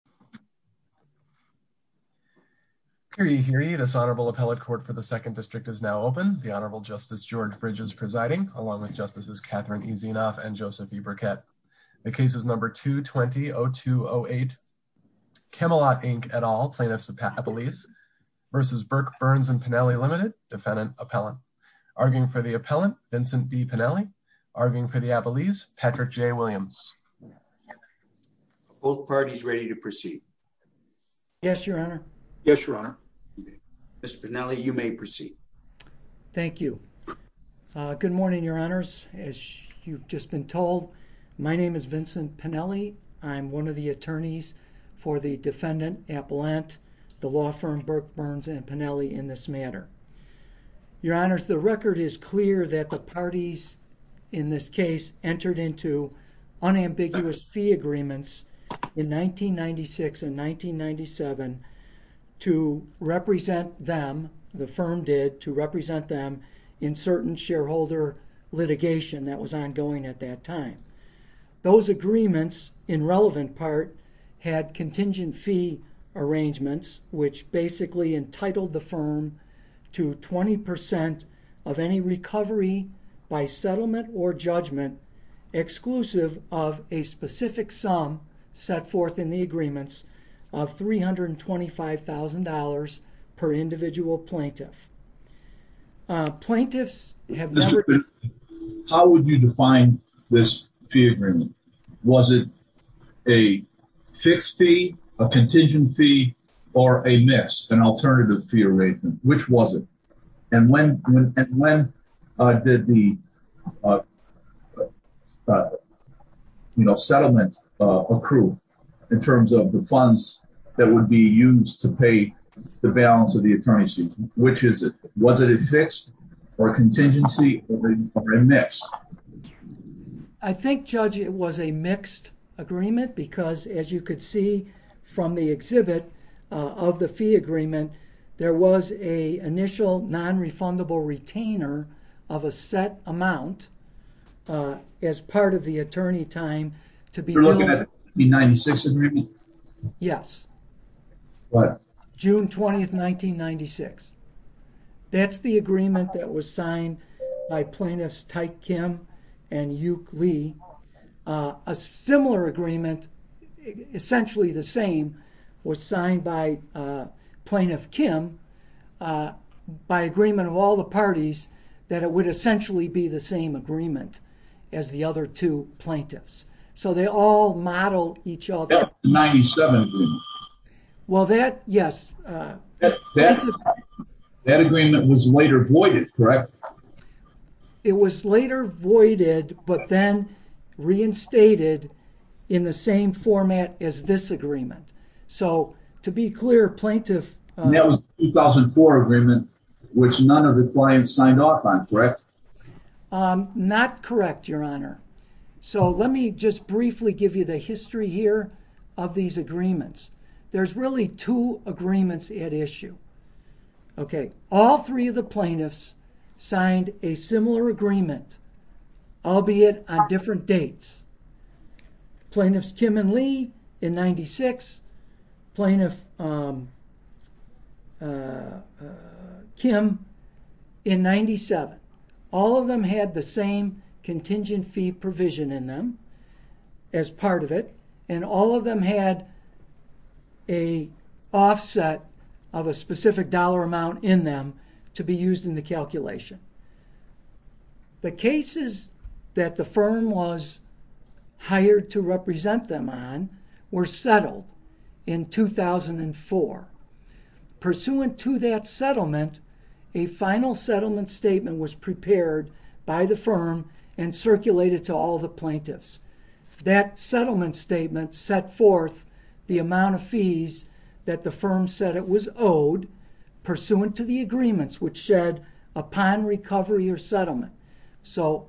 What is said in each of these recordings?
v. Burke Burns & Pinelli Ltd., Defendant, Appellant. Arguing for the Appellant, Vincent D. Pinelli. Arguing for the Appellant, Patrick J. Williams. Both parties ready to proceed. Yes, Your Honor. Yes, Your Honor. Mr. Pinelli, you may proceed. Thank you. Good morning, Your Honors. As you've just been told, my name is Vincent Pinelli. I'm one of the attorneys for the Defendant, Appellant, the Law Firm, Burke Burns & Pinelli in this matter. Your Honors, the record is clear that the parties in this case entered into unambiguous fee agreements in 1996 and 1997 to represent them, the firm did, to represent them in certain shareholder litigation that was ongoing at that time. Those agreements, in relevant part, had contingent fee arrangements, which basically entitled the firm to 20% of any recovery by settlement or judgment exclusive of a specific sum set forth in the agreements of $325,000 per individual plaintiff. Plaintiffs have... How would you define this fee agreement? Was it a fixed fee, a contingent fee, or a missed, an alternative fee arrangement? Which was it? And when did the settlement accrue in terms of the funds that would be used to pay the balance of the attorneyship? Which is it? Was it a fixed or contingency or a mixed? I think, Judge, it was a mixed agreement because, as you could see from the exhibit of the fee agreement, there was an initial non-refundable retainer of a set amount as part of the attorney time to be known... You're looking at the 1996 agreement? Yes. What? June 20, 1996. That's the agreement that was signed by Plaintiffs Tyke Kim and Yuk Lee. A similar agreement, essentially the same, was signed by Plaintiff Kim by agreement of all the parties that it would essentially be the same agreement as the other two plaintiffs. So they all model each other. That's the 1997 agreement. Yes. That agreement was later voided, correct? It was later voided but then reinstated in the same format as this agreement. So, to be clear, Plaintiff... That was the 2004 agreement which none of the clients signed off on, correct? Not correct, Your Honor. So let me just briefly give you the history here of these agreements. There's really two agreements at issue. Okay. All three of the plaintiffs signed a similar agreement, albeit on different dates. Plaintiffs Kim and Lee in 1996, Plaintiff... um... uh... Kim in 1997. All of them had the same contingent fee provision in them as part of it, and all of them had a offset of a specific dollar amount in them to be used in the calculation. The cases that the firm was hired to represent them on were in 2004. Pursuant to that settlement, a final settlement statement was prepared by the firm and circulated to all the plaintiffs. That settlement statement set forth the amount of fees that the firm said it was owed pursuant to the agreements which said upon recovery or settlement. So,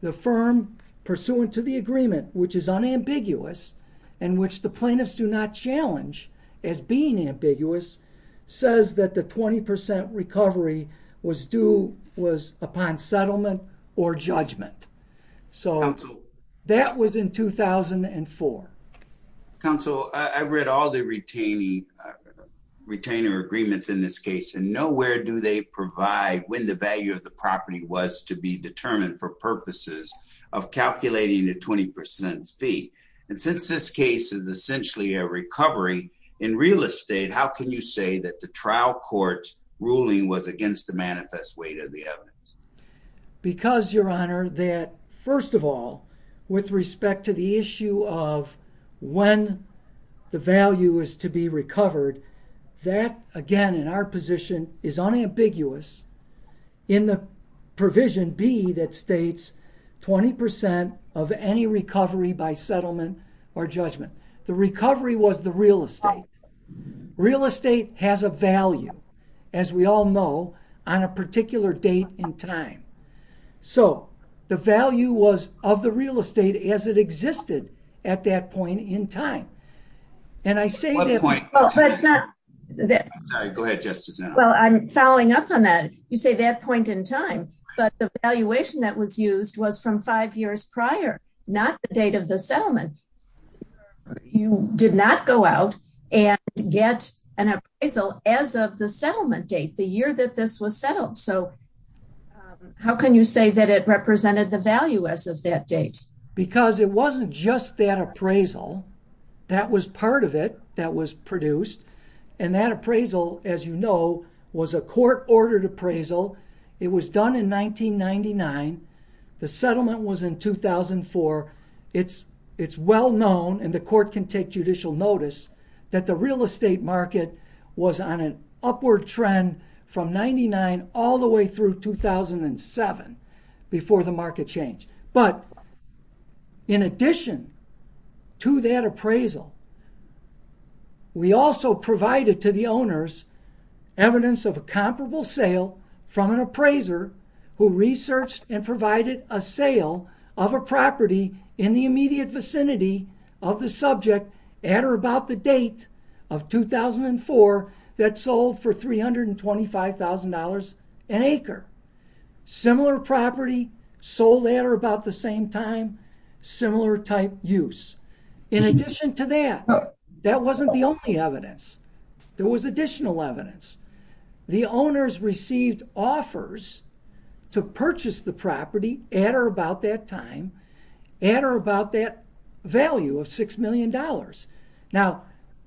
the firm pursuant to the agreement, which is unambiguous, in which the plaintiffs do not challenge as being ambiguous, says that the 20% recovery was due... was upon settlement or judgment. So, that was in 2004. Counsel, I've read all the retaining... retainer agreements in this case, and nowhere do they provide when the value of the property was to be determined for purposes of calculating the 20% fee. And since this case is essentially a recovery in real estate, how can you say that the trial court ruling was against the manifest weight of the evidence? Because, Your Honor, that first of all, with respect to the issue of when the value is to be recovered, that again, in our position, is unambiguous in the provision B that states 20% of any recovery by settlement or judgment. The recovery was the real estate. Real estate has a value, as we all know, on a particular date and time. So, the value was of the real estate as it existed at that point in time. And I say that... Well, that's not... Go ahead, Justice. Well, I'm following up on that. You say that point in time, but the valuation that was used was from five years prior, not the date of the settlement. You did not go out and get an appraisal as of the settlement date, the year that this was settled. So, how can you say that it represented the value as of that date? Because it wasn't just that appraisal. That was part of it that was produced. And that appraisal, as you know, was a court-ordered appraisal. It was done in 1999. The settlement was in 2004. It's well known, and the court can take judicial notice, that the real estate market was on an upward trend from 1999 all the way through 2007 before the market changed. But, in addition to that appraisal, we also provided to the owners evidence of a comparable sale from an appraiser who researched and provided a sale of a property in the immediate vicinity of the subject at or about the date of 2004 that sold for $325,000 an acre. Similar property sold at or about the same time, similar type use. In addition to that, that wasn't the only evidence. There was additional evidence. The owners received offers to purchase the property at or about that time at or about that value of $6 million. Now,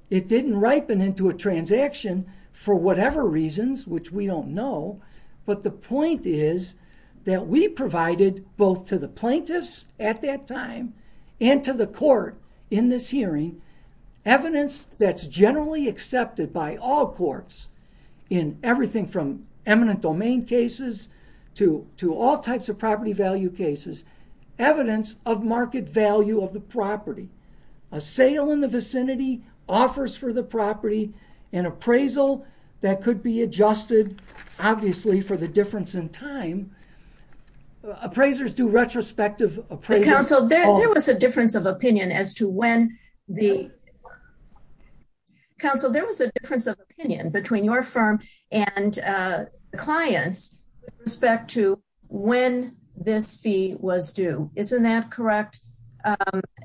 it didn't ripen into a transaction for whatever reasons, which we don't know, but the point is that we provided both to the plaintiffs at that time and to the court in this hearing evidence that's generally accepted by all courts in everything from eminent domain cases to all types of property value cases. Evidence of market value of the property. A sale in the vicinity offers for the property an appraisal that could be adjusted, obviously, for the difference in time. Appraisers do retrospective appraisals. There was a difference of opinion as to when the... Counsel, there was a difference of opinion between your firm and clients with respect to when this fee was due. Isn't that correct?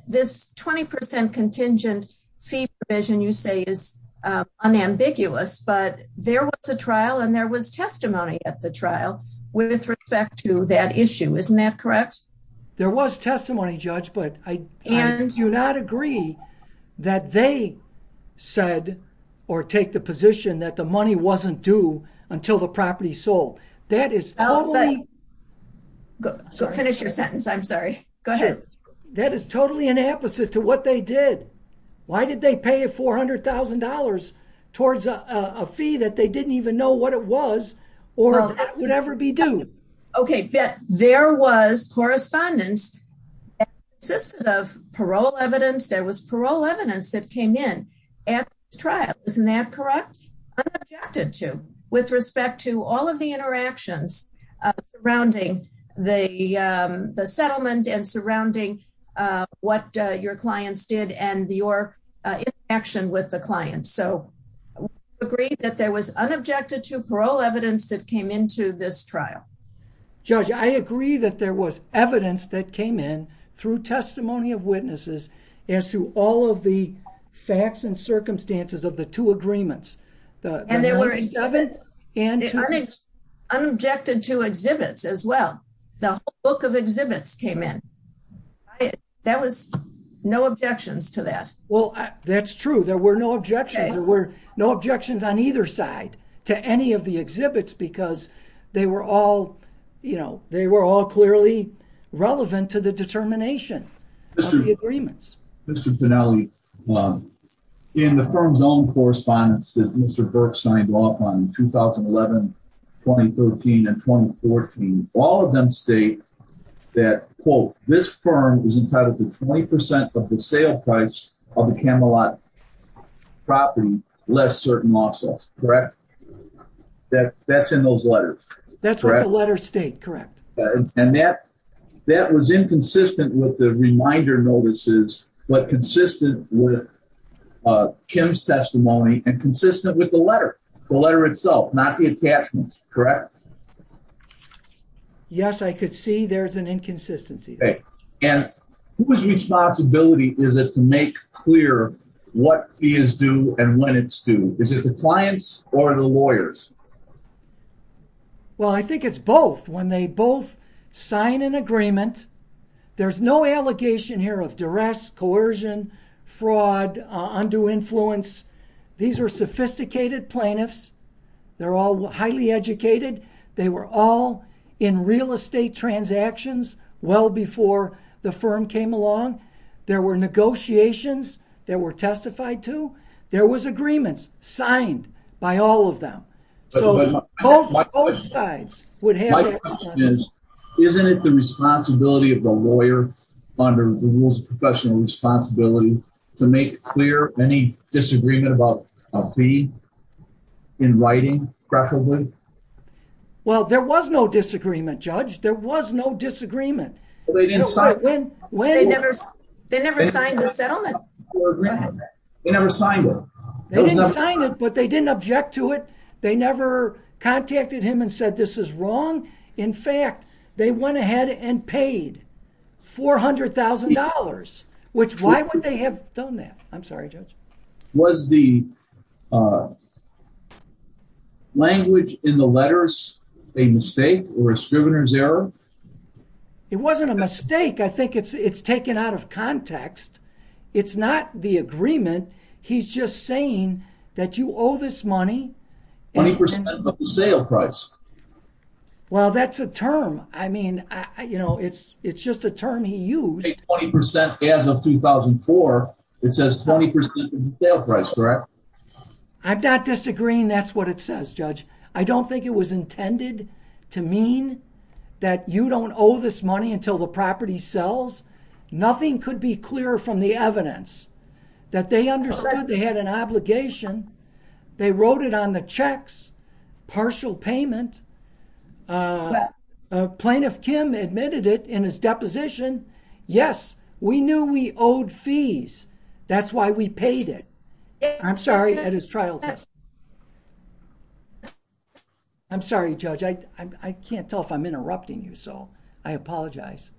This 20% contingent fee provision you say is unambiguous, but there was a trial and there was testimony at the trial with respect to that issue. Isn't that correct? There was testimony, Judge, but I do not agree that they said or take the position that the money wasn't due until the property sold. That is totally... Go finish your sentence. I'm sorry. Go ahead. That is totally an opposite to what they did. Why did they pay $400,000 towards a fee that they didn't even know what it was or that would ever be due? There was correspondence that consisted of parole evidence. There was parole evidence that came in at the trial. Isn't that correct? Unobjected to with respect to all of the interactions surrounding the settlement and surrounding what your clients did and your interaction with the client. We agree that there was unobjected to parole evidence that came into this trial. Judge, I agree that there was evidence that came in through testimony of witnesses as to all of the facts and circumstances of the two agreements. And there were... Unobjected to exhibits as well. The book of exhibits came in. That was no objections to that. Well, that's true. There were no objections. There were no objections on either side to any of the exhibits because they were all clearly relevant to the determination of the agreements. Mr. Pinelli, in the firm's own correspondence that Mr. Burke signed off on 2011, 2013 and 2014, all of them state that quote, this firm is entitled to 20% of the sale price of the Camelot property less certain lawsuits. Correct? That's in those letters. That's what the letters state. Correct. And that was inconsistent with the reminder notices but consistent with Kim's testimony and consistent with the letter. The letter itself, not the attachments. Correct? Yes, I could see there's an inconsistency there. And whose responsibility is it to make clear what is due and when it's due? Is it the client's or the lawyer's? Well, I think it's both. When they both sign an agreement, there's no allegation here of duress, coercion, fraud, undue influence. These were sophisticated plaintiffs. They're all highly educated. They were all in real estate transactions well before the firm came along. There were negotiations. They were testified to. There was agreements signed by all of them. So both sides would have to My question is, isn't it the responsibility of the lawyer under the Rules of Professional Responsibility to make clear any disagreement about a fee in writing preferably? Well, there was no disagreement, Judge. There was no disagreement. They never signed the settlement. They never signed it. They didn't sign it, but they didn't object to it. They never contacted him and said, this is wrong. In fact, they went ahead and paid $400,000, which why would they have done that? I'm sorry, Judge. Was the language in the letters a mistake or a strivener's error? It wasn't a mistake. I think it's taken out of context. It's not the agreement. He's just saying that you owe this money. 20% of the sale price. Well, that's a term. I mean, you know, it's just a term he used. 20% as of 2004. It says 20% of the sale price, correct? I'm not disagreeing. That's what it says, Judge. I don't think it was intended to mean that you don't owe this money until the property sells. Nothing could be clearer from the evidence that they understood they had an obligation. They wrote it on the checks. Partial payment. Plaintiff Kim admitted it in his deposition. Yes, we knew we owed fees. That's why we paid it. I'm sorry. I'm sorry, Judge. I can't tell if I'm interrupting you. I apologize.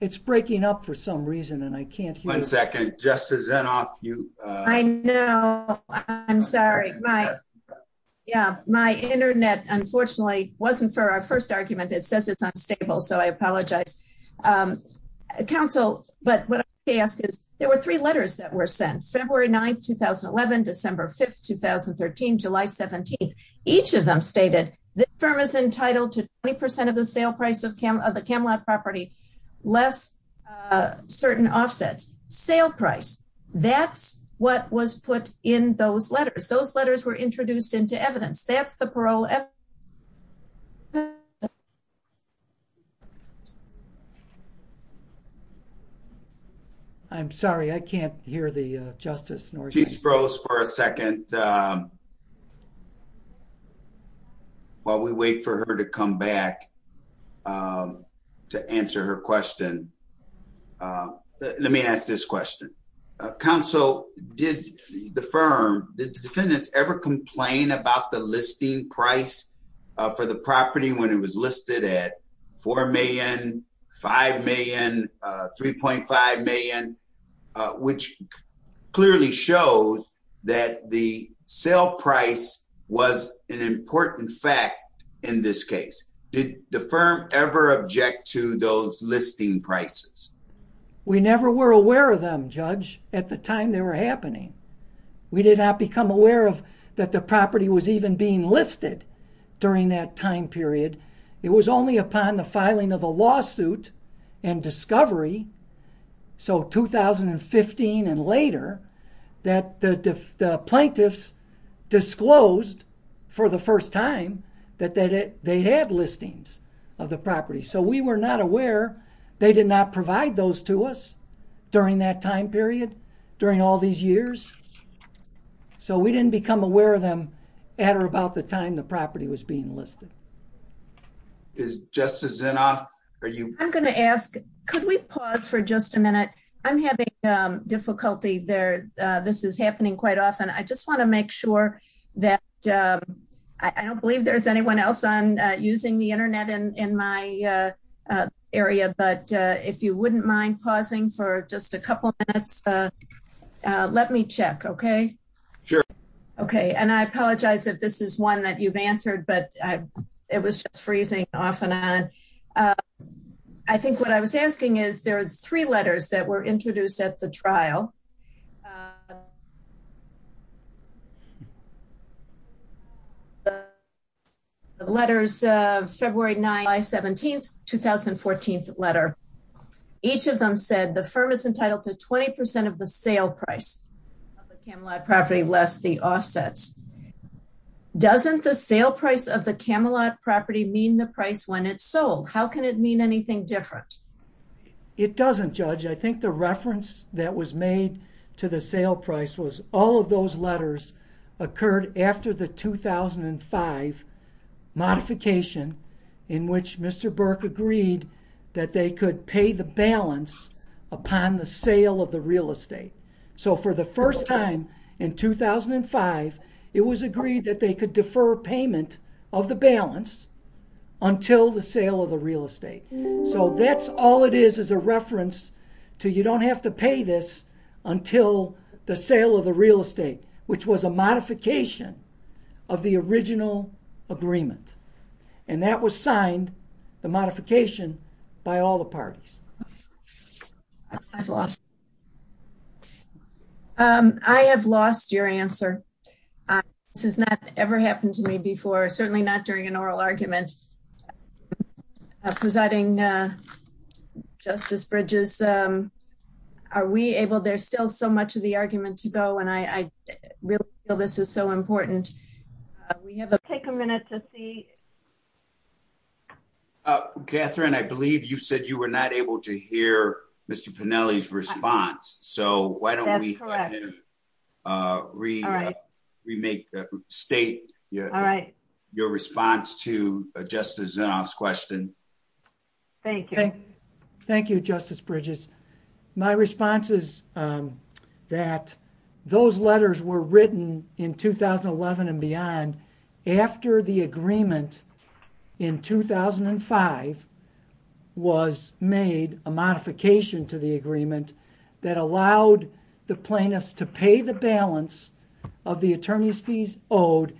It's breaking up for some reason and I can't hear you. I know. I'm sorry. My internet unfortunately wasn't for our first argument. It says it's unstable. I apologize. Counsel, there were three letters that were sent, February 9, 2011, December 5, 2013, July 17. Each of them stated the firm is entitled to 20% of the sale price of the Camelot property, less certain offsets. Sale price. That's what was put in those letters. Those letters were introduced into evidence. That's the parole evidence. Thank you. I'm sorry. I can't hear the justice. While we wait for her to come back to answer her question, let me ask this question. Counsel, did the firm, did the defendants ever complain about the listing price for the property when it was listed at $4 million, $5 million, $3.5 million, which clearly shows that the sale price was an important fact in this case. Did the firm ever object to those listing prices? We never were aware of them, Judge, at the time they were happening. We did not become aware of that the property was even being listed during that time period. It was only upon the filing of a lawsuit and discovery, so 2015 and later, that the plaintiffs disclosed for the first time that they had listings of the property. So we were not aware. They did not provide those to us during that time period. We did not become aware of them at or about the time the property was being listed. Is Justice Zinoff... I'm going to ask, could we pause for just a minute? I'm having difficulty there. This is happening quite often. I just want to make sure that I don't believe there's anyone else on using the Internet in my area, but if you wouldn't mind pausing for just a couple minutes, let me check, okay? Sure. Okay, and I apologize if this is one that you've answered, but it was just freezing off and on. I think what I was asking is, there are three letters that were introduced at the trial. The letters of February 9, 2017, 2014 letter. Each of them said, the firm is entitled to 20% of the sale price of the Camelot property less the offsets. Doesn't the sale price of the Camelot property mean the price when it's sold? How can it mean anything different? It doesn't, Judge. I think the reference that was made to the sale price was all of those letters occurred after the 2005 modification in which Mr. Burke agreed that they could pay the balance upon the sale of the real estate. So for the first time in 2005, it was agreed that they could defer payment of the balance until the sale of the real estate. So that's all it is as a reference to you don't have to pay this until the sale of the real estate, which was a modification of the original agreement. And that was signed, the modification, by all the parties. I've lost it. I have lost your answer. This has not ever happened to me before, certainly not during an oral argument. Presiding Justice Bridges, are we able, there's still so much of the argument to go and I really feel this is so important. We have to take a minute to see. Catherine, I believe you said you were not able to hear Mr. Pennelly's response. So why don't we remake the state your response to Justice Zinoff's question. Thank you. Thank you, Justice Bridges. My response is that those letters were written in 2011 and beyond after the agreement in 2005 was made, a modification to the agreement that allowed the plaintiffs to pay the balance of the attorney's fees owed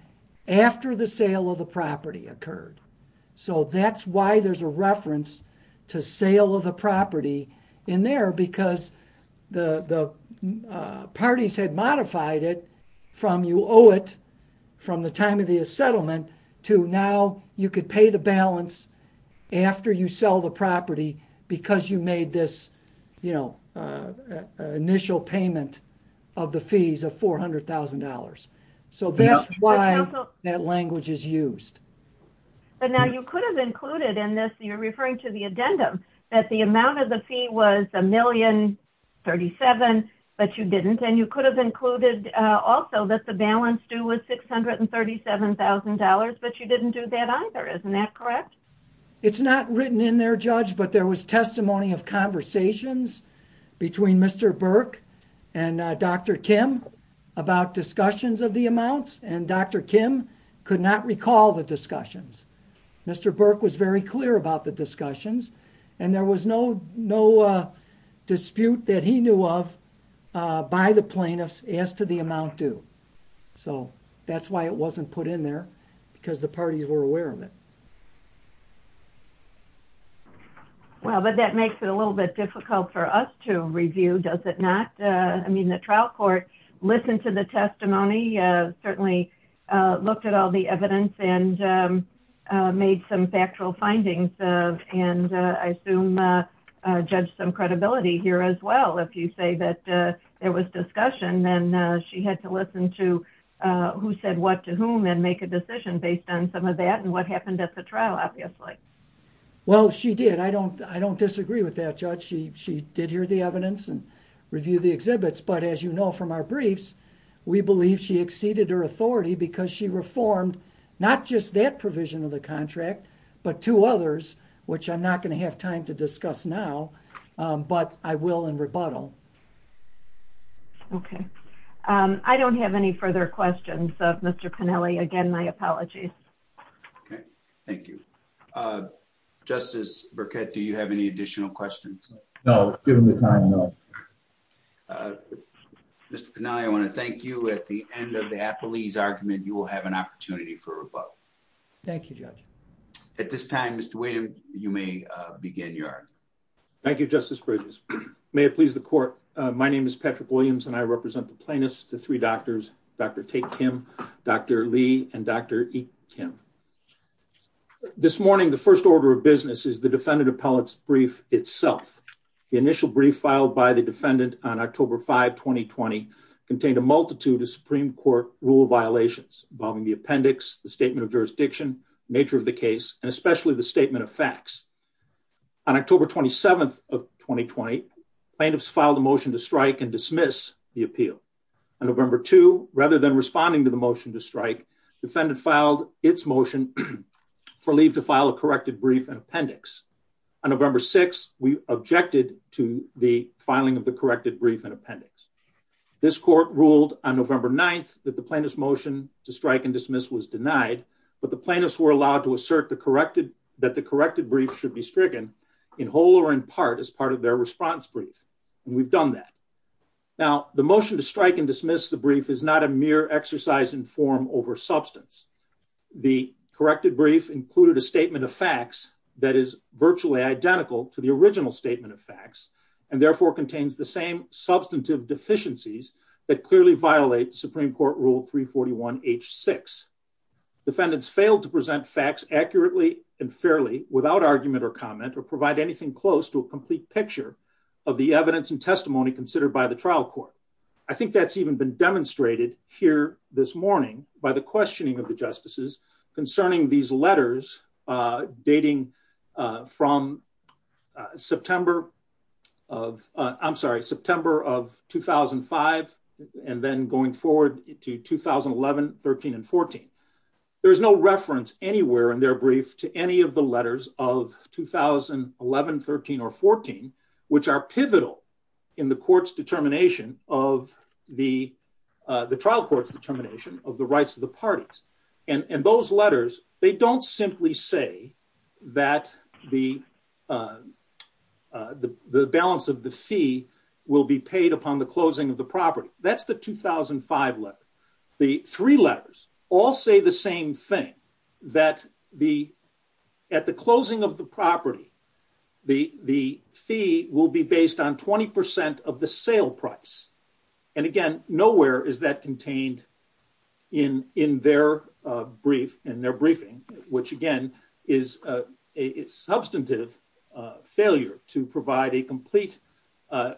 after the sale of the property occurred. So that's why there's a reference to sale of the property in there because the parties had modified it from you owe it from the time of the settlement to now you could pay the balance after you sell the property because you made this initial payment of the fees of $400,000. So that's why that language is used. But now you could have included in this, you're referring to the addendum that the amount of the fee was $1,037,000 but you didn't and you could have included also that the balance due was $637,000 but you didn't do that either. Isn't that correct? It's not written in there, Judge, but there was testimony of conversations between Mr. Burke and Dr. Kim about discussions of the amounts and Dr. Kim could not recall the discussions. Mr. Burke was very clear about the discussions and there was no dispute that he knew of by the plaintiffs as to the amount due. So that's why it wasn't put in there because the parties were aware of it. Well, but that makes it a little bit difficult for us to review, does it not? I mean, the trial court listened to the testimony, certainly looked at all the evidence and made some and I assume judged some credibility here as well if you say that there was discussion and she had to listen to who said what to whom and make a decision based on some of that and what happened at the trial, obviously. Well, she did. I don't disagree with that, Judge. She did hear the evidence and reviewed the exhibits, but as you know from our briefs we believe she exceeded her authority because she reformed not just that provision of the contract but two others, which I'm not going to have time to discuss now but I will in rebuttal. Okay. I don't have any further questions of Mr. Pennelly. Again, my apologies. Okay. Thank you. Justice Burkett, do you have any additional questions? No, given the time, no. Mr. Pennelly, I want to thank you. At the end of the Appleese argument, you will have an opportunity for questions. At this time, Mr. William, you may begin your argument. Thank you, Justice Bridges. May it please the court. My name is Patrick Williams and I represent the plaintiffs, the three doctors, Dr. Tate Kim, Dr. Lee, and Dr. Kim. This morning, the first order of business is the defendant appellate's brief itself. The initial brief filed by the defendant on October 5, 2020 contained a multitude of Supreme Court rule violations involving the appendix, the statement of jurisdiction, the nature of the case, and especially the statement of facts. On October 27, 2020, plaintiffs filed a motion to strike and dismiss the appeal. On November 2, rather than responding to the motion to strike, the defendant filed its motion for leave to file a corrected brief and appendix. On November 6, we objected to the filing of the corrected brief and appendix. This court ruled on November 9 that the defendant was denied, but the plaintiffs were allowed to assert that the corrected brief should be stricken in whole or in part as part of their response brief, and we've done that. Now, the motion to strike and dismiss the brief is not a mere exercise in form over substance. The corrected brief included a statement of facts that is virtually identical to the original statement of facts, and therefore contains the same substantive deficiencies that clearly violate Supreme Court Rule 341H6. Defendants failed to present facts accurately and fairly without argument or comment or provide anything close to a complete picture of the evidence and testimony considered by the trial court. I think that's even been demonstrated here this morning by the questioning of the justices concerning these letters dating from September of, I'm sorry, September of 2005 and then going forward to 2011, 13, and 14. There's no reference anywhere in their brief to any of the letters of 2011, 13, or 14, which are pivotal in the court's determination of the trial court's determination of the rights of the parties, and those letters, they don't simply say that the balance of the fee will be paid upon the closing of the property. That's the 2005 letter. The three letters all say the same thing, that at the closing of the property, the fee will be based on 20% of the sale price. And again, nowhere is that contained in their brief, in their briefing, which again is a substantive failure to provide a complete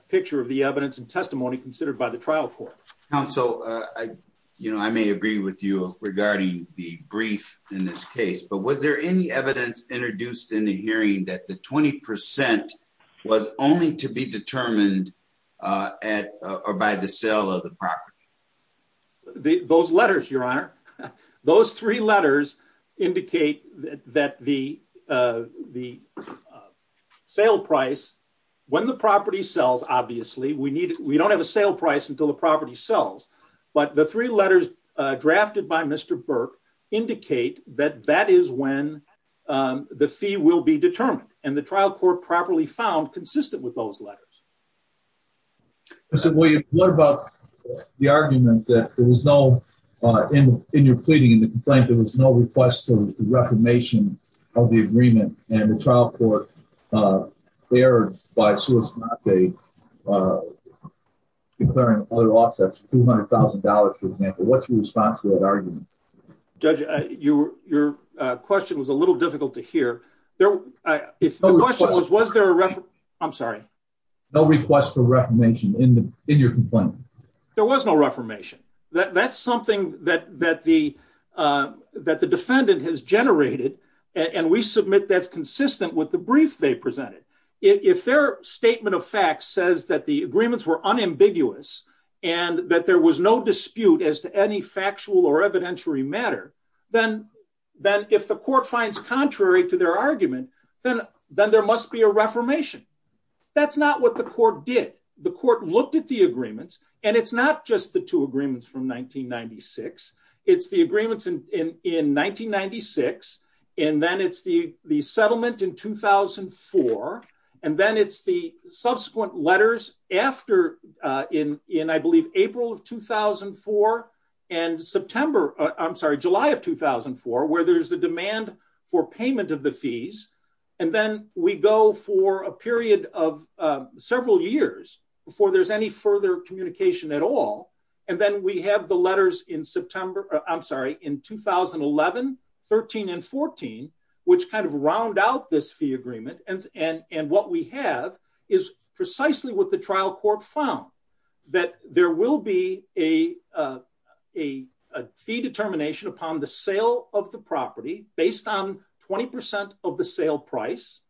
picture of the evidence and testimony considered by the trial court. Counsel, I may agree with you regarding the brief in this case, but was there any evidence introduced in the hearing that the 20% was only to be determined by the sale of the property? Those letters, Your Honor, those three letters indicate that the sale price, when the property sells, obviously, we don't have a sale price until the property sells, but the three letters drafted by Mr. Burke indicate that that is when the fee will be determined, and the trial court properly found consistent with those letters. Mr. Williams, what about the argument that there was no, in your pleading, in the complaint, there was no request for reformation of the agreement, and the trial court erred by declaring other offsets, $200,000, for example. What's your response to that argument? Judge, your question was a little difficult to hear. The question was, was there a... I'm sorry. No request for reformation in your complaint. There was no reformation. That's something that the court generated, and we submit that's consistent with the brief they presented. If their statement of fact says that the agreements were unambiguous, and that there was no dispute as to any factual or evidentiary matter, then if the court finds contrary to their argument, then there must be a reformation. That's not what the court did. The court looked at the agreements, and it's not just the two agreements from 1996. It's the agreements in 1996, and then it's the settlement in 2004, and then it's the subsequent letters after in, I believe, April of 2004, and July of 2004, where there's a demand for payment of the fees, and then we go for a period of several years before there's any further communication at all, and then we have the letters in September I'm sorry, in 2011, 13, and 14, which kind of round out this fee agreement and what we have is precisely what the trial court found, that there will be a fee determination upon the sale of the property based on 20% of the sale price,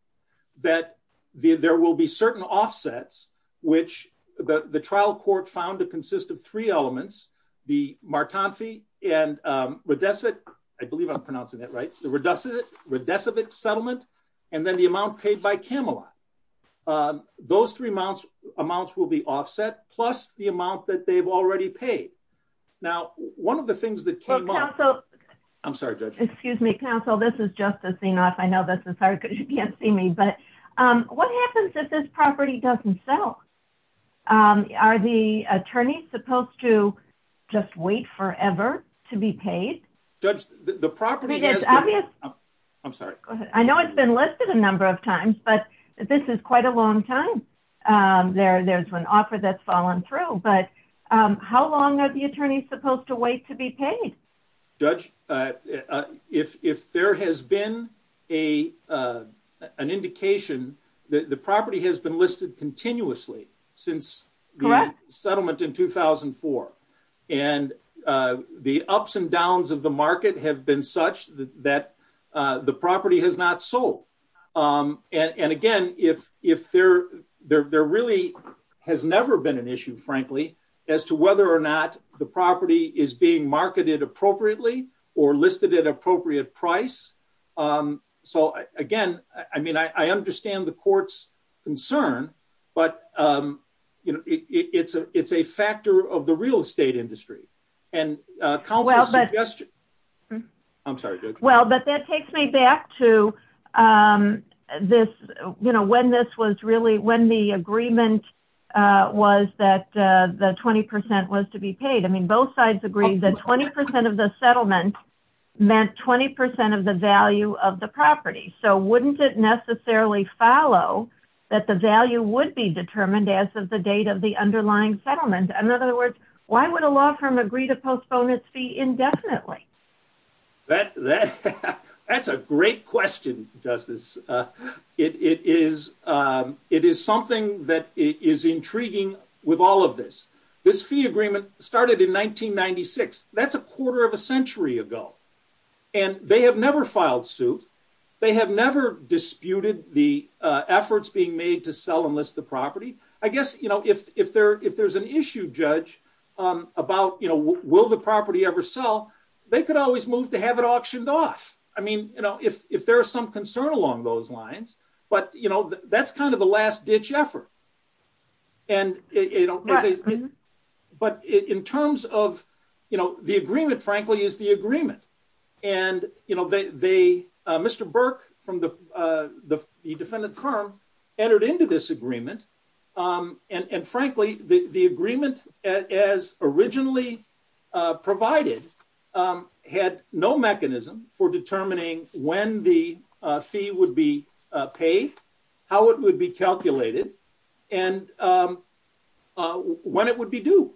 that there will be certain offsets which the trial court found to consist of three elements the Martan fee, and Redesvet, I believe I'm pronouncing that right, the Redesvet settlement, and then the amount paid by Camelot. Those three amounts will be offset, plus the amount that they've already paid. Now, one of the things that came up I'm sorry, Judge. Excuse me, counsel, this is Justice Enoff. I know this is hard because you can't see me, but what happens if this property doesn't sell? Are the attorneys supposed to just wait forever to be paid? Judge, the property is obvious... I'm sorry. I know it's been listed a number of times, but this is quite a long time. There's an offer that's fallen through, but how long are the attorneys supposed to wait to be paid? Judge, if there has been an indication that the property has been listed continuously since the settlement in 2004, and the ups and downs of the market have been such that the property has not sold, and again, there really has never been an issue, frankly, as to whether or not the property is being marketed appropriately or listed at an appropriate price. Again, I understand the court's concern, but it's a factor of the real estate industry. Counsel's suggestion... I'm sorry, Judge. That takes me back to when the agreement was that the 20% was to be paid. Both sides agreed that 20% of the settlement meant 20% of the value of the property, so wouldn't it necessarily follow that the value would be determined as of the date of the underlying settlement? In other words, why would a law firm agree to postpone its fee indefinitely? That's a great question, Justice. It is something that is intriguing with all of this. This fee agreement started in 1996. That's a quarter of a century ago. They have never filed suit. They have never disputed the efforts being made to sell and list the property. I guess if there's an issue, Judge, about will the property ever sell, they could always move to have it auctioned off if there's some concern along those lines. That's kind of the last-ditch effort. In terms of the agreement, frankly, is the agreement. Mr. Burke from the defendant firm entered into this agreement. Frankly, the agreement as originally provided had no mechanism for determining when the fee would be paid, how it would be calculated, and when it would be due.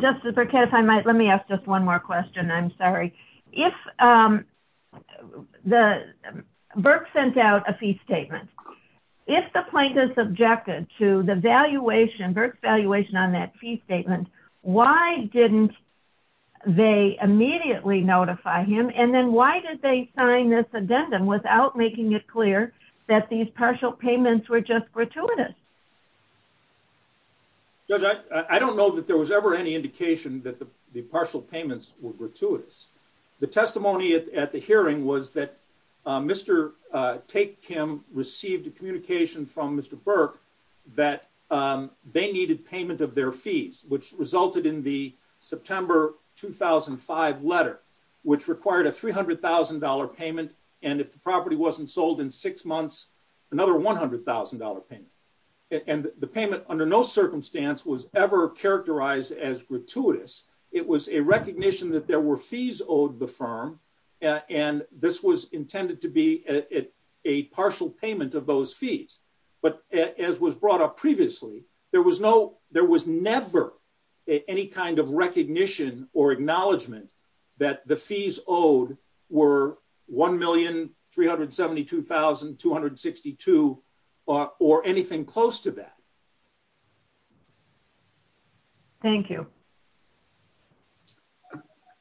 Justice Burkett, if I might, let me ask just one more question. I'm sorry. Burke sent out a fee statement. If the plaintiff objected to the Burke's valuation on that fee statement, why didn't they immediately notify him, and then why did they sign this addendum without making it clear that these partial payments were just gratuitous? Judge, I don't know that there was ever any indication that the partial payments were gratuitous. The testimony at the hearing was that Mr. Tate Kim received a communication from Mr. Burke that they needed payment of their fees, which resulted in the September 2005 letter, which required a $300,000 payment, and if the property wasn't sold in six months, another $100,000 payment. The payment, under no circumstance, was ever characterized as gratuitous. It was a recognition that there were fees owed the firm, and this was intended to be a partial payment of those fees. As was brought up previously, there was never any kind of recognition or acknowledgement that the fees owed were $1,372,262 or anything close to that. Thank you.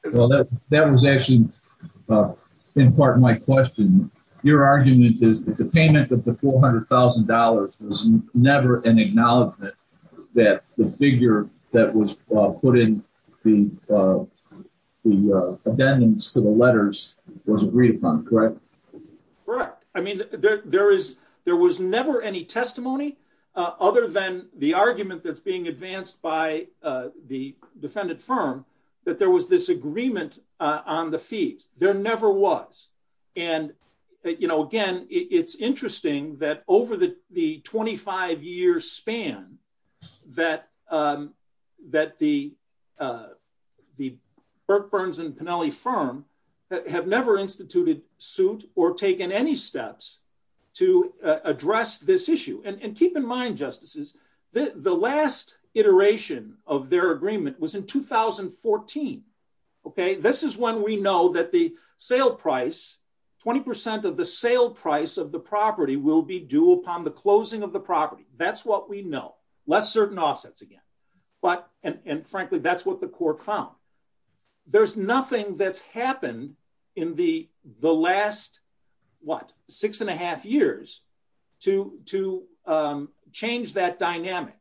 That was actually in part my question. Your argument is that the payment of the $400,000 was never an acknowledgement that the figure that was put in the addendums to the letters was agreed upon, correct? Correct. I mean, there was never any testimony other than the argument that's being advanced by the defendant firm that there was this agreement on the fees. There never was. Again, it's interesting that over the 25-year span that the Burke, Burns, and Pennelly firm have never instituted, sued, or taken any steps to address this issue. Keep in mind, Justices, the last iteration of their agreement was in 2014. This is when we know that the sale price, 20% of the sale price of the property will be due upon the closing of the property. That's what we know. Less certain offsets again. Frankly, that's what the court found. There's nothing that's happened in the last six and a half years to change that dynamic.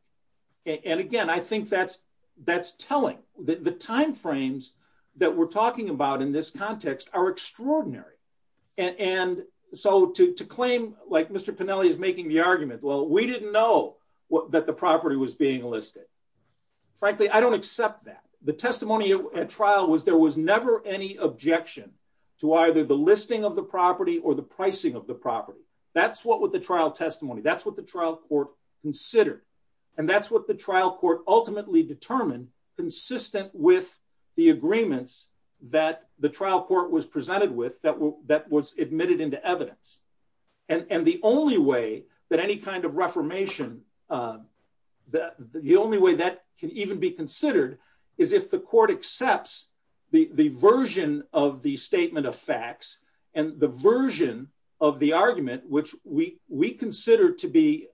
Again, I think that's telling. The timeframes that we're talking about in this context are extraordinary. To claim like Mr. Pennelly is making the argument, well, we didn't know that the property was being listed. Frankly, I don't accept that. The testimony at trial was there was never any objection to either the listing of the property or the pricing of the property. That's what with the trial testimony, that's what the trial court considered. That's what the trial court ultimately determined consistent with the agreements that the trial court was presented with that was admitted into evidence. The only way that any kind of reformation, the only way that can even be considered is if the court accepts the version of the statement of facts and the version of the argument which we consider to be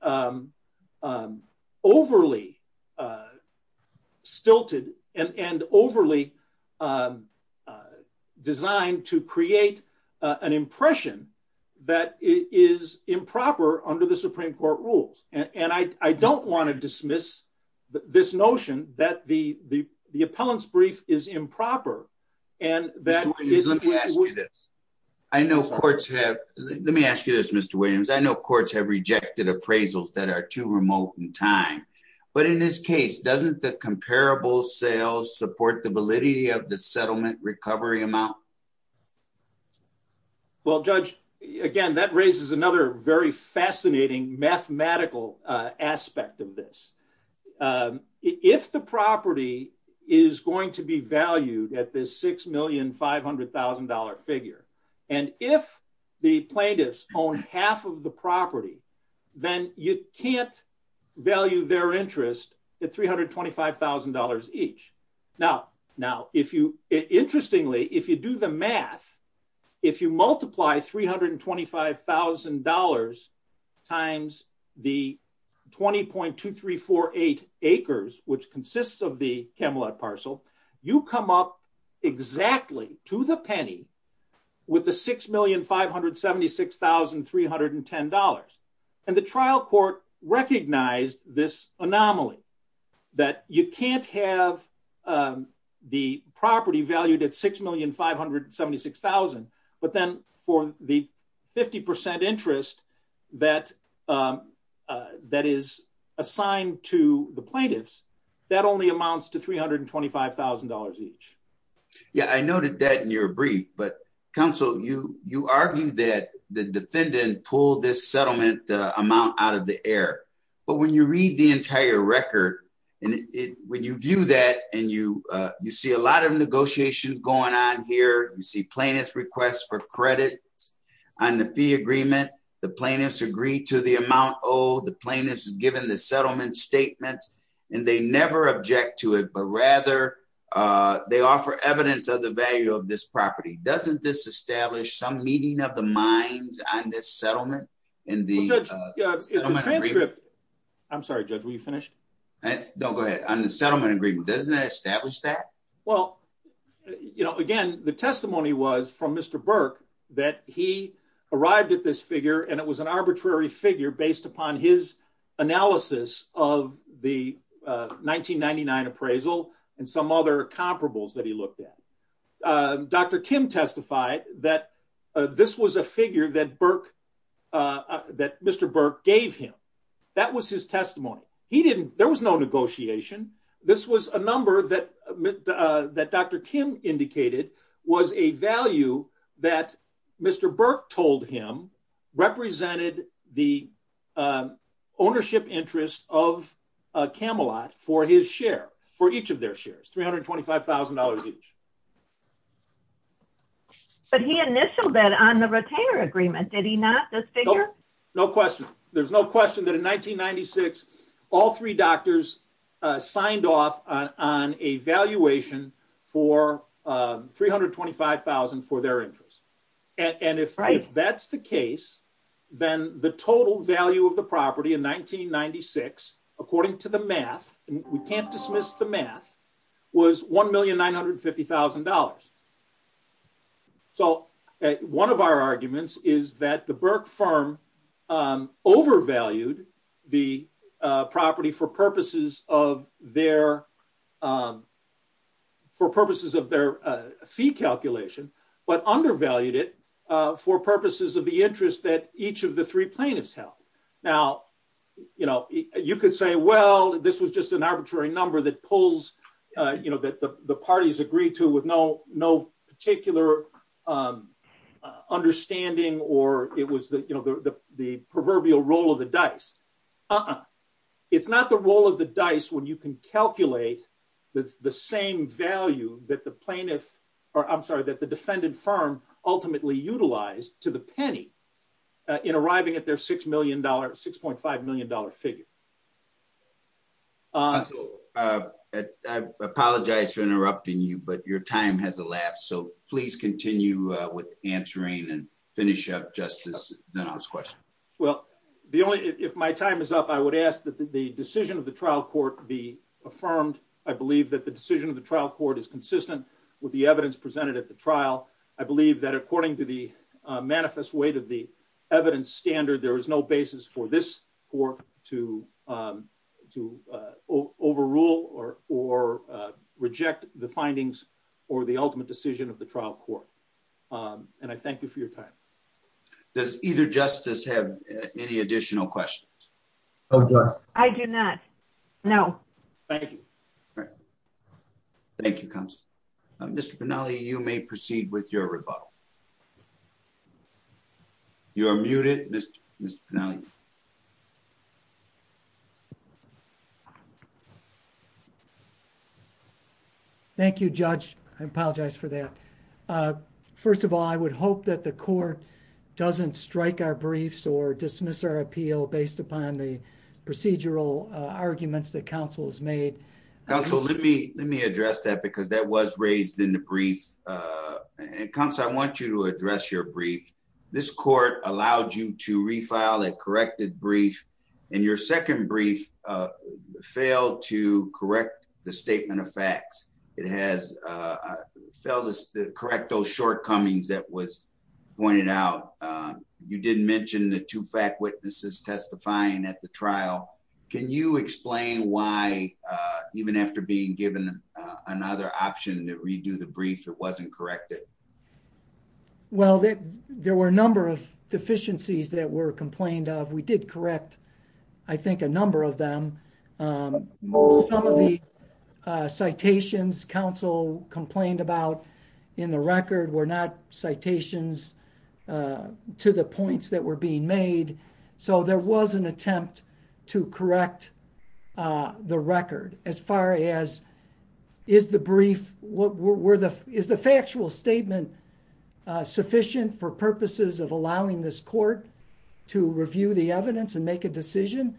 overly stilted and overly designed to create an impression that it is improper under the Supreme Court rules. I don't want to dismiss this notion that the appellant's brief is improper. Mr. Williams, let me ask you this. Let me ask you this, Mr. Williams. I know courts have rejected appraisals that are too remote in time, but in this case, doesn't the comparable wholesale support the validity of the settlement recovery amount? Well, Judge, again, that raises another very fascinating mathematical aspect of this. If the property is going to be valued at this $6,500,000 figure, and if the plaintiffs own half of the property, then you can't value their interest at $325,000 each. Now, interestingly, if you do the math, if you multiply $325,000 times the 20.2348 acres, which consists of the Camelot parcel, you come up exactly to the penny with the $6,576,310. And the trial court recognized this anomaly that you can't have the property valued at $6,576,000, but then for the 50% interest that is assigned to the plaintiffs, that only amounts to $325,000 each. Yeah, I noted that in your brief, but counsel, you argued that the defendant pulled this settlement amount out of the air. But when you read the entire record, when you view that and you see a lot of negotiations going on here, you see plaintiffs request for credit on the fee agreement, the plaintiffs agree to the amount owed, the plaintiffs have given the settlement statements, and they never object to it, but rather they offer evidence of the value of this property. Doesn't this establish some meeting of the minds on this settlement in the settlement agreement? I'm sorry, Judge, were you finished? No, go ahead. On the settlement agreement, doesn't it establish that? Again, the testimony was from Mr. Burke that he arrived at this figure, and it was an arbitrary figure based upon his analysis of the 1999 appraisal and some other comparables that he looked at. Dr. Kim testified that this was a figure that Mr. Burke gave him. That was his testimony. There was no negotiation. This was a number that Dr. Kim indicated was a value that Mr. Burke told him represented the ownership interest of Camelot for his share, for each of their shares, $325,000 each. But he initialed that on the retainer agreement. Did he not, this figure? No question. There's no question that in 1996, all three doctors signed off on a valuation for $325,000 for their interest. And if that's the case, of the property in 1996, according to the math, we can't dismiss the math, was $1,950,000. So one of our arguments is that the Burke firm overvalued the property for purposes of their fee calculation, but undervalued it for purposes of the interest that each of the three plaintiffs held. Now, you know, you could say, well, this was just an arbitrary number that pulls that the parties agreed to with no particular understanding or it was the proverbial roll of the dice. Uh-uh. It's not the roll of the dice when you can calculate the same value that the plaintiff, I'm sorry, that the defendant firm ultimately utilized to the penny in arriving at their $6.5 million figure. So I apologize for interrupting you, but your time has elapsed. So please continue with answering and finish up Justice question. Well, the only if my time is up, I would ask that the decision of the trial court be affirmed. I believe that the decision of the trial court is consistent with the evidence presented at the trial. I believe that according to the manifest weight of the evidence standard, there is no basis for this court to overrule or reject the findings or the ultimate decision of the trial court. And I thank you for your time. Does either justice have any additional questions? I do not. No. Thank you. Thank you, Counselor. Mr. Penali, you may proceed with your rebuttal. You are muted, Mr. Penali. Thank you, Judge. I apologize for that. First of all, I would hope that the court doesn't strike our briefs or dismiss our appeal based upon the procedural arguments that counsel has made. Counsel, let me address that because that was raised in the brief. Counselor, I want you to address your brief. This court allowed you to refile a corrected brief and your second brief failed to correct the statement of facts. It has failed to correct those shortcomings that was pointed out. You didn't mention the two fact witnesses testifying at the trial. Can you explain why even after being given another option to redo the brief it wasn't corrected? Well, there were a number of deficiencies that were complained of. We did correct I think a number of them. Some of the citations counsel complained about in the record were not citations to the points that were being made. So, there was an attempt to correct the record as far as is the brief, is the factual statement sufficient for purposes of allowing this court to review the evidence and make a decision?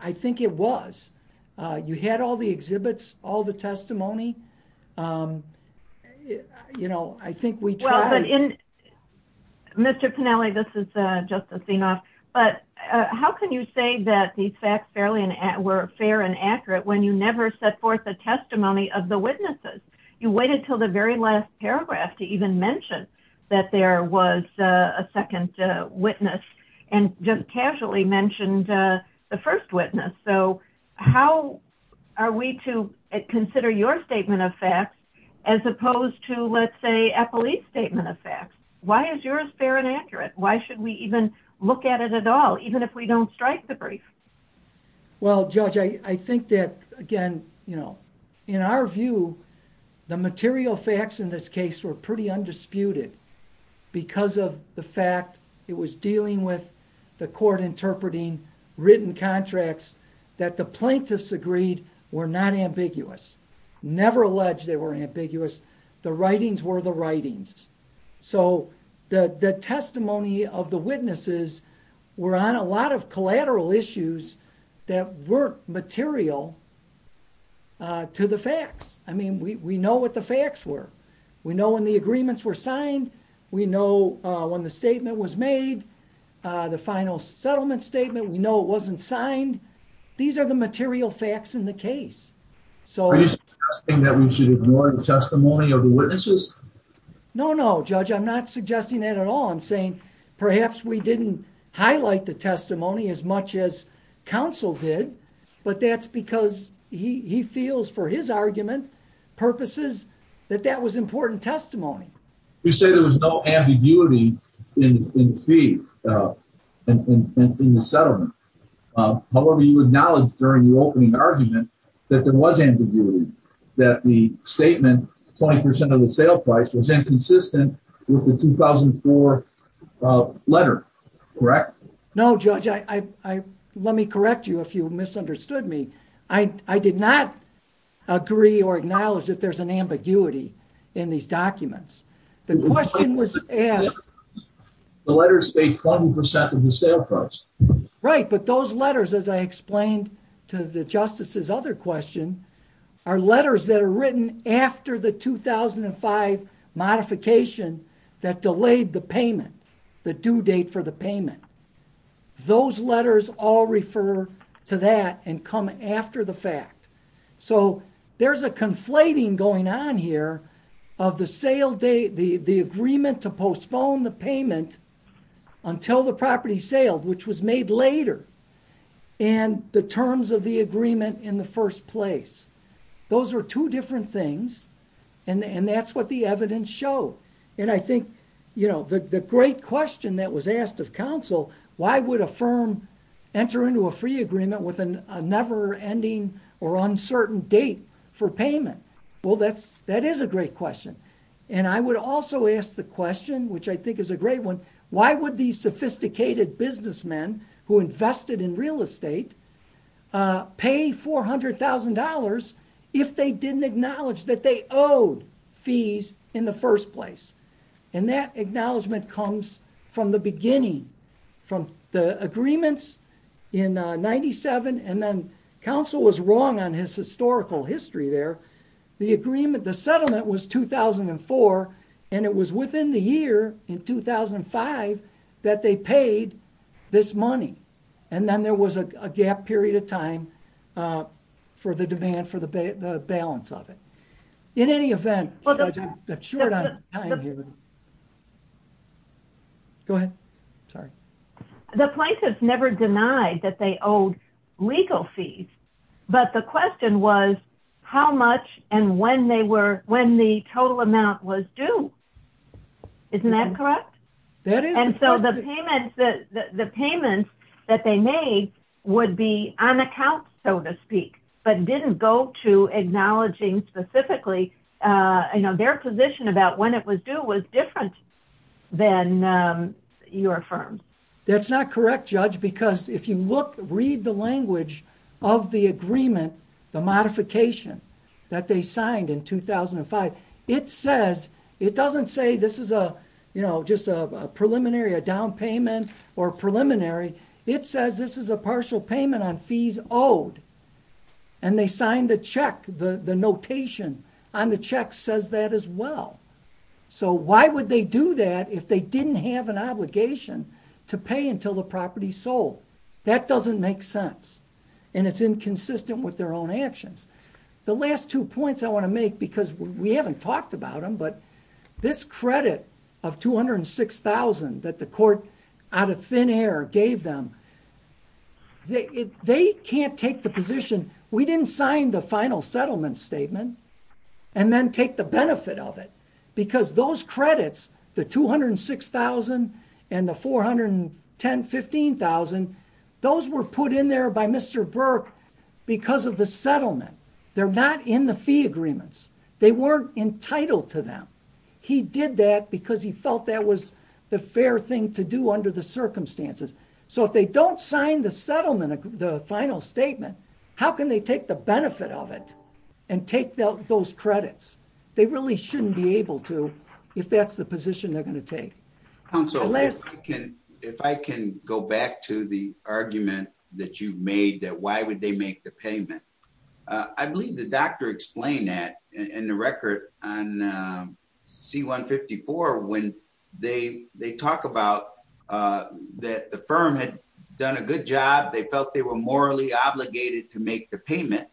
I think it was. You had all the exhibits, all the testimony. You know, I think we tried. Mr. Pinelli, this is Justice Zinoff, but how can you say that these facts were fair and accurate when you never set forth a testimony of the witnesses? You waited until the very last paragraph to even mention that there was a second witness and just casually mentioned the first witness. So, how are we to consider your statement of facts as opposed to, let's say, a police statement of facts? Why is yours fair and accurate? Why should we even look at it at all, even if we don't strike the brief? Well, Judge, I think that again, you know, in our view the material facts in this case were pretty undisputed because of the fact it was dealing with the court interpreting written contracts that the plaintiffs agreed were not ambiguous. Never alleged they were ambiguous. The writings were the writings. So, were on a lot of collateral issues that weren't material to the facts. I mean, we know what the facts were. We know when the agreements were signed. We know when the statement was made. The final settlement statement, we know it wasn't signed. These are the material facts in the case. Are you suggesting that we should ignore the testimony of the witnesses? No, no, Judge. I'm not suggesting that at all. I'm saying perhaps we didn't highlight the testimony as much as counsel did, but that's because he feels for his argument purposes that that was important testimony. You say there was no ambiguity in the settlement. However, you acknowledged during the opening argument that there was ambiguity. That the statement 20% of the sale price was inconsistent with the 2004 letter. Correct? No, Judge. Let me correct you if you misunderstood me. I did not agree or acknowledge that there's an ambiguity in these documents. The question was asked... The letters say 20% of the sale price. Right, but those letters, as I explained to the Justice's other question, are letters that are written after the 2005 modification that delayed the payment, the due date for the payment. Those letters all refer to that and come after the fact. So there's a conflating going on here of the sale date, the agreement to postpone the payment until the property sailed, which was made later. And the terms of the agreement in the first place. Those are two different things and that's what the evidence showed. And I think, you know, the great question that was asked of counsel, why would a firm enter into a free agreement with a never-ending or uncertain date for payment? Well, that is a great question. And I would also ask the question, which I think is a great one, why would these sophisticated businessmen who invested in real estate pay $400,000 if they didn't acknowledge that they owed fees in the first place? And that acknowledgement comes from the beginning, from the agreements in 97, and then counsel was wrong on his historical history there. The settlement was 2004 and it was within the year in 2005 that they paid this money. And then there was a gap period of time for the demand for the balance of it. In any event, I'm short on time here. Go ahead. Sorry. The plaintiffs never denied that they owed legal fees, but the question was how much and when they were, when the total amount was due. Isn't that correct? And so the that they made would be on account, so to speak, but didn't go to acknowledging specifically their position about when it was due was different than your firm. That's not correct, Judge, because if you look read the language of the agreement, the modification that they signed in 2005, it says it doesn't say this is a just a preliminary, a down payment or preliminary. It says this is a partial payment on fees owed. And they signed the check. The notation on the check says that as well. So why would they do that if they didn't have an obligation to pay until the property sold? That doesn't make sense. And it's inconsistent with their own actions. The last two points I want to make, because we haven't talked about them, but this credit of $206,000 that the court out of thin air gave them, they can't take the position, we didn't sign the final settlement statement and then take the benefit of it because those credits, the $206,000 and the $410,000, $15,000, those were put in there by Mr. Burke because of the settlement. They're not in the fee agreements. They weren't entitled to them. He did that because he felt that was the fair thing to do under the circumstances. So if they don't sign the settlement, the final statement, how can they take the benefit of it and take those credits? They really shouldn't be able to if that's the position they're going to take. Counsel, if I can go back to the argument that you made that why would they make the payment? I believe the doctor explained that in the record on C-154 when they talk about that the firm had done a good job. They felt they were morally obligated to make the payment.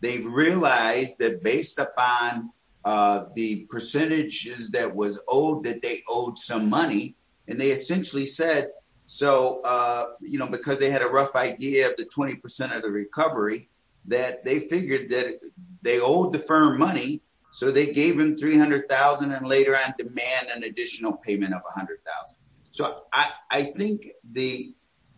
They realized that based upon the percentages that was owed, that they owed some money and they essentially said because they had a rough idea of the 20% of the recovery that they figured that they owed the firm money so they gave him $300,000 and later on demand an additional payment of $100,000. I think the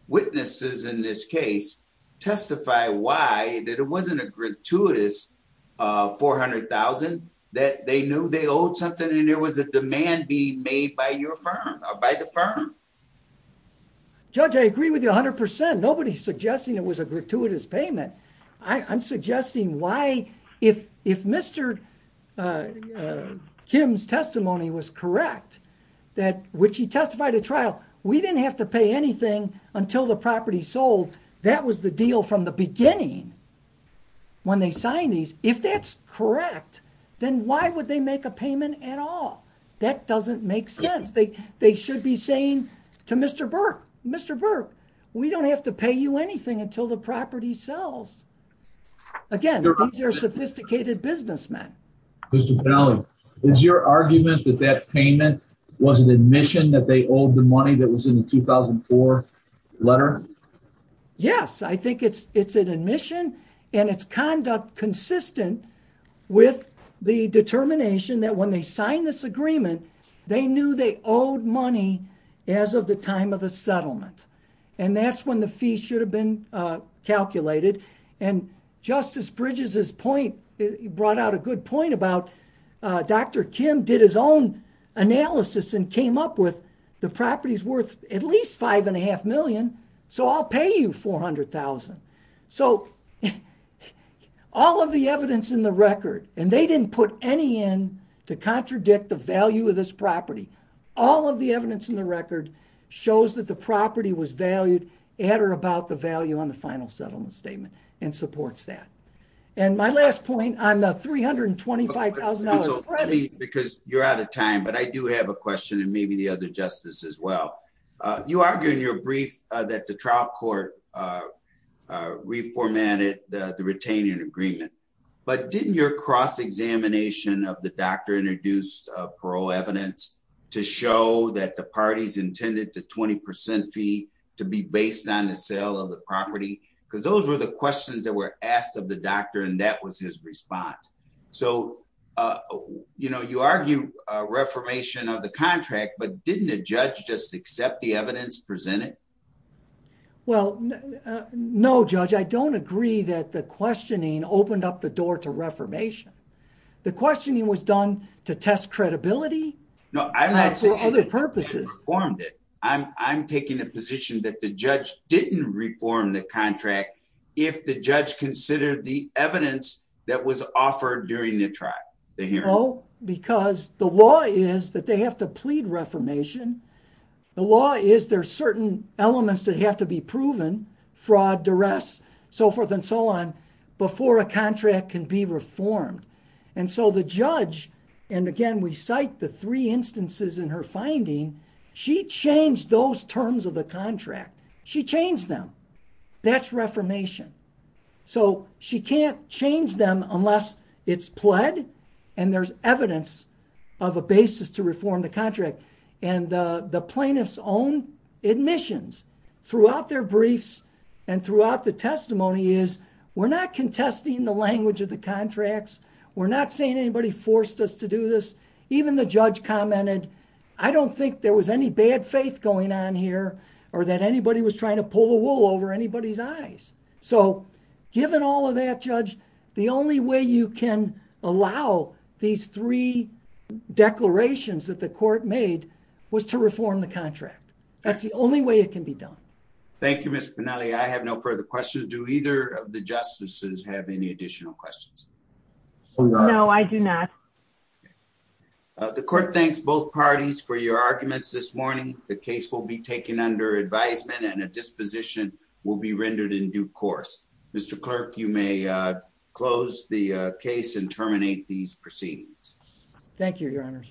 witnesses in this case testify why that it wasn't a gratuitous $400,000 that they knew they owed something and there was a demand being made by your firm or by the firm. Judge, I agree with you 100%. Nobody's suggesting it was a gratuitous payment. I'm suggesting why if Mr. Kim's which he testified at trial we didn't have to pay anything until the property sold. That was the deal from the beginning when they signed these. If that's correct, then why would they make a payment at all? That doesn't make sense. They should be saying to Mr. Burke Mr. Burke, we don't have to pay you anything until the property sells. Again, these are sophisticated businessmen. Mr. Penali, is your argument that that payment was an admission that they owed the money that was in the 2004 letter? Yes. I think it's an admission and it's conduct consistent with the determination that when they signed this agreement they knew they owed money as of the time of the settlement. That's when the fee should have been calculated. Justice Bridges' point brought out a good point about Dr. Kim did his own analysis and came up with the property's worth at least $5.5 million so I'll pay you $400,000. All of the evidence in the record, and they didn't put any in to contradict the value of this property. All of the evidence in the record shows that the property was valued at or about the value on the final settlement statement and supports that. My last point, I'm $325,000 ready. You're out of time, but I do have a question and maybe the other justice as well. You argue in your brief that the trial court reformatted the retaining agreement, but didn't your cross-examination of the doctor introduce parole evidence to show that the parties intended the 20% fee to be based on the sale of the property? Those were the questions that were asked of the doctor and that was his response. You argue reformation of the contract, but didn't the judge just accept the evidence presented? No, Judge. I don't agree that the questioning opened up the door to reformation. The questioning was done to test credibility for other purposes. I'm taking the position that the judge didn't reform the contract if the judge considered the evidence that was offered during the hearing. No, because the law is that they have to plead reformation. The law is there are certain elements that have to be proven, fraud, duress, so forth and so on, before a contract can be reformed. The judge, and again, we cite the three instances in her finding, she changed those terms of the contract. She changed them. That's reformation. She can't change them unless it's pled and there's evidence of a basis to reform the contract. The plaintiff's own admissions throughout their briefs and throughout the testimony is we're not contesting the language of the contracts. We're not saying anybody forced us to do this. Even the judge commented I don't think there was any bad faith going on here or that anybody was trying to pull the wool over anybody's eyes. Given all of that, Judge, the only way you can allow these three declarations that the court made was to reform the contract. That's the only way it can be done. Thank you, Mr. Pinelli. I have no further questions. Do either of the justices have any additional questions? No, I do not. The court thanks both parties for your arguments this morning. The case will be taken under advisement and a disposition will be rendered in due course. Mr. Clerk, you may close the case and terminate these proceedings. Thank you, Your Honor.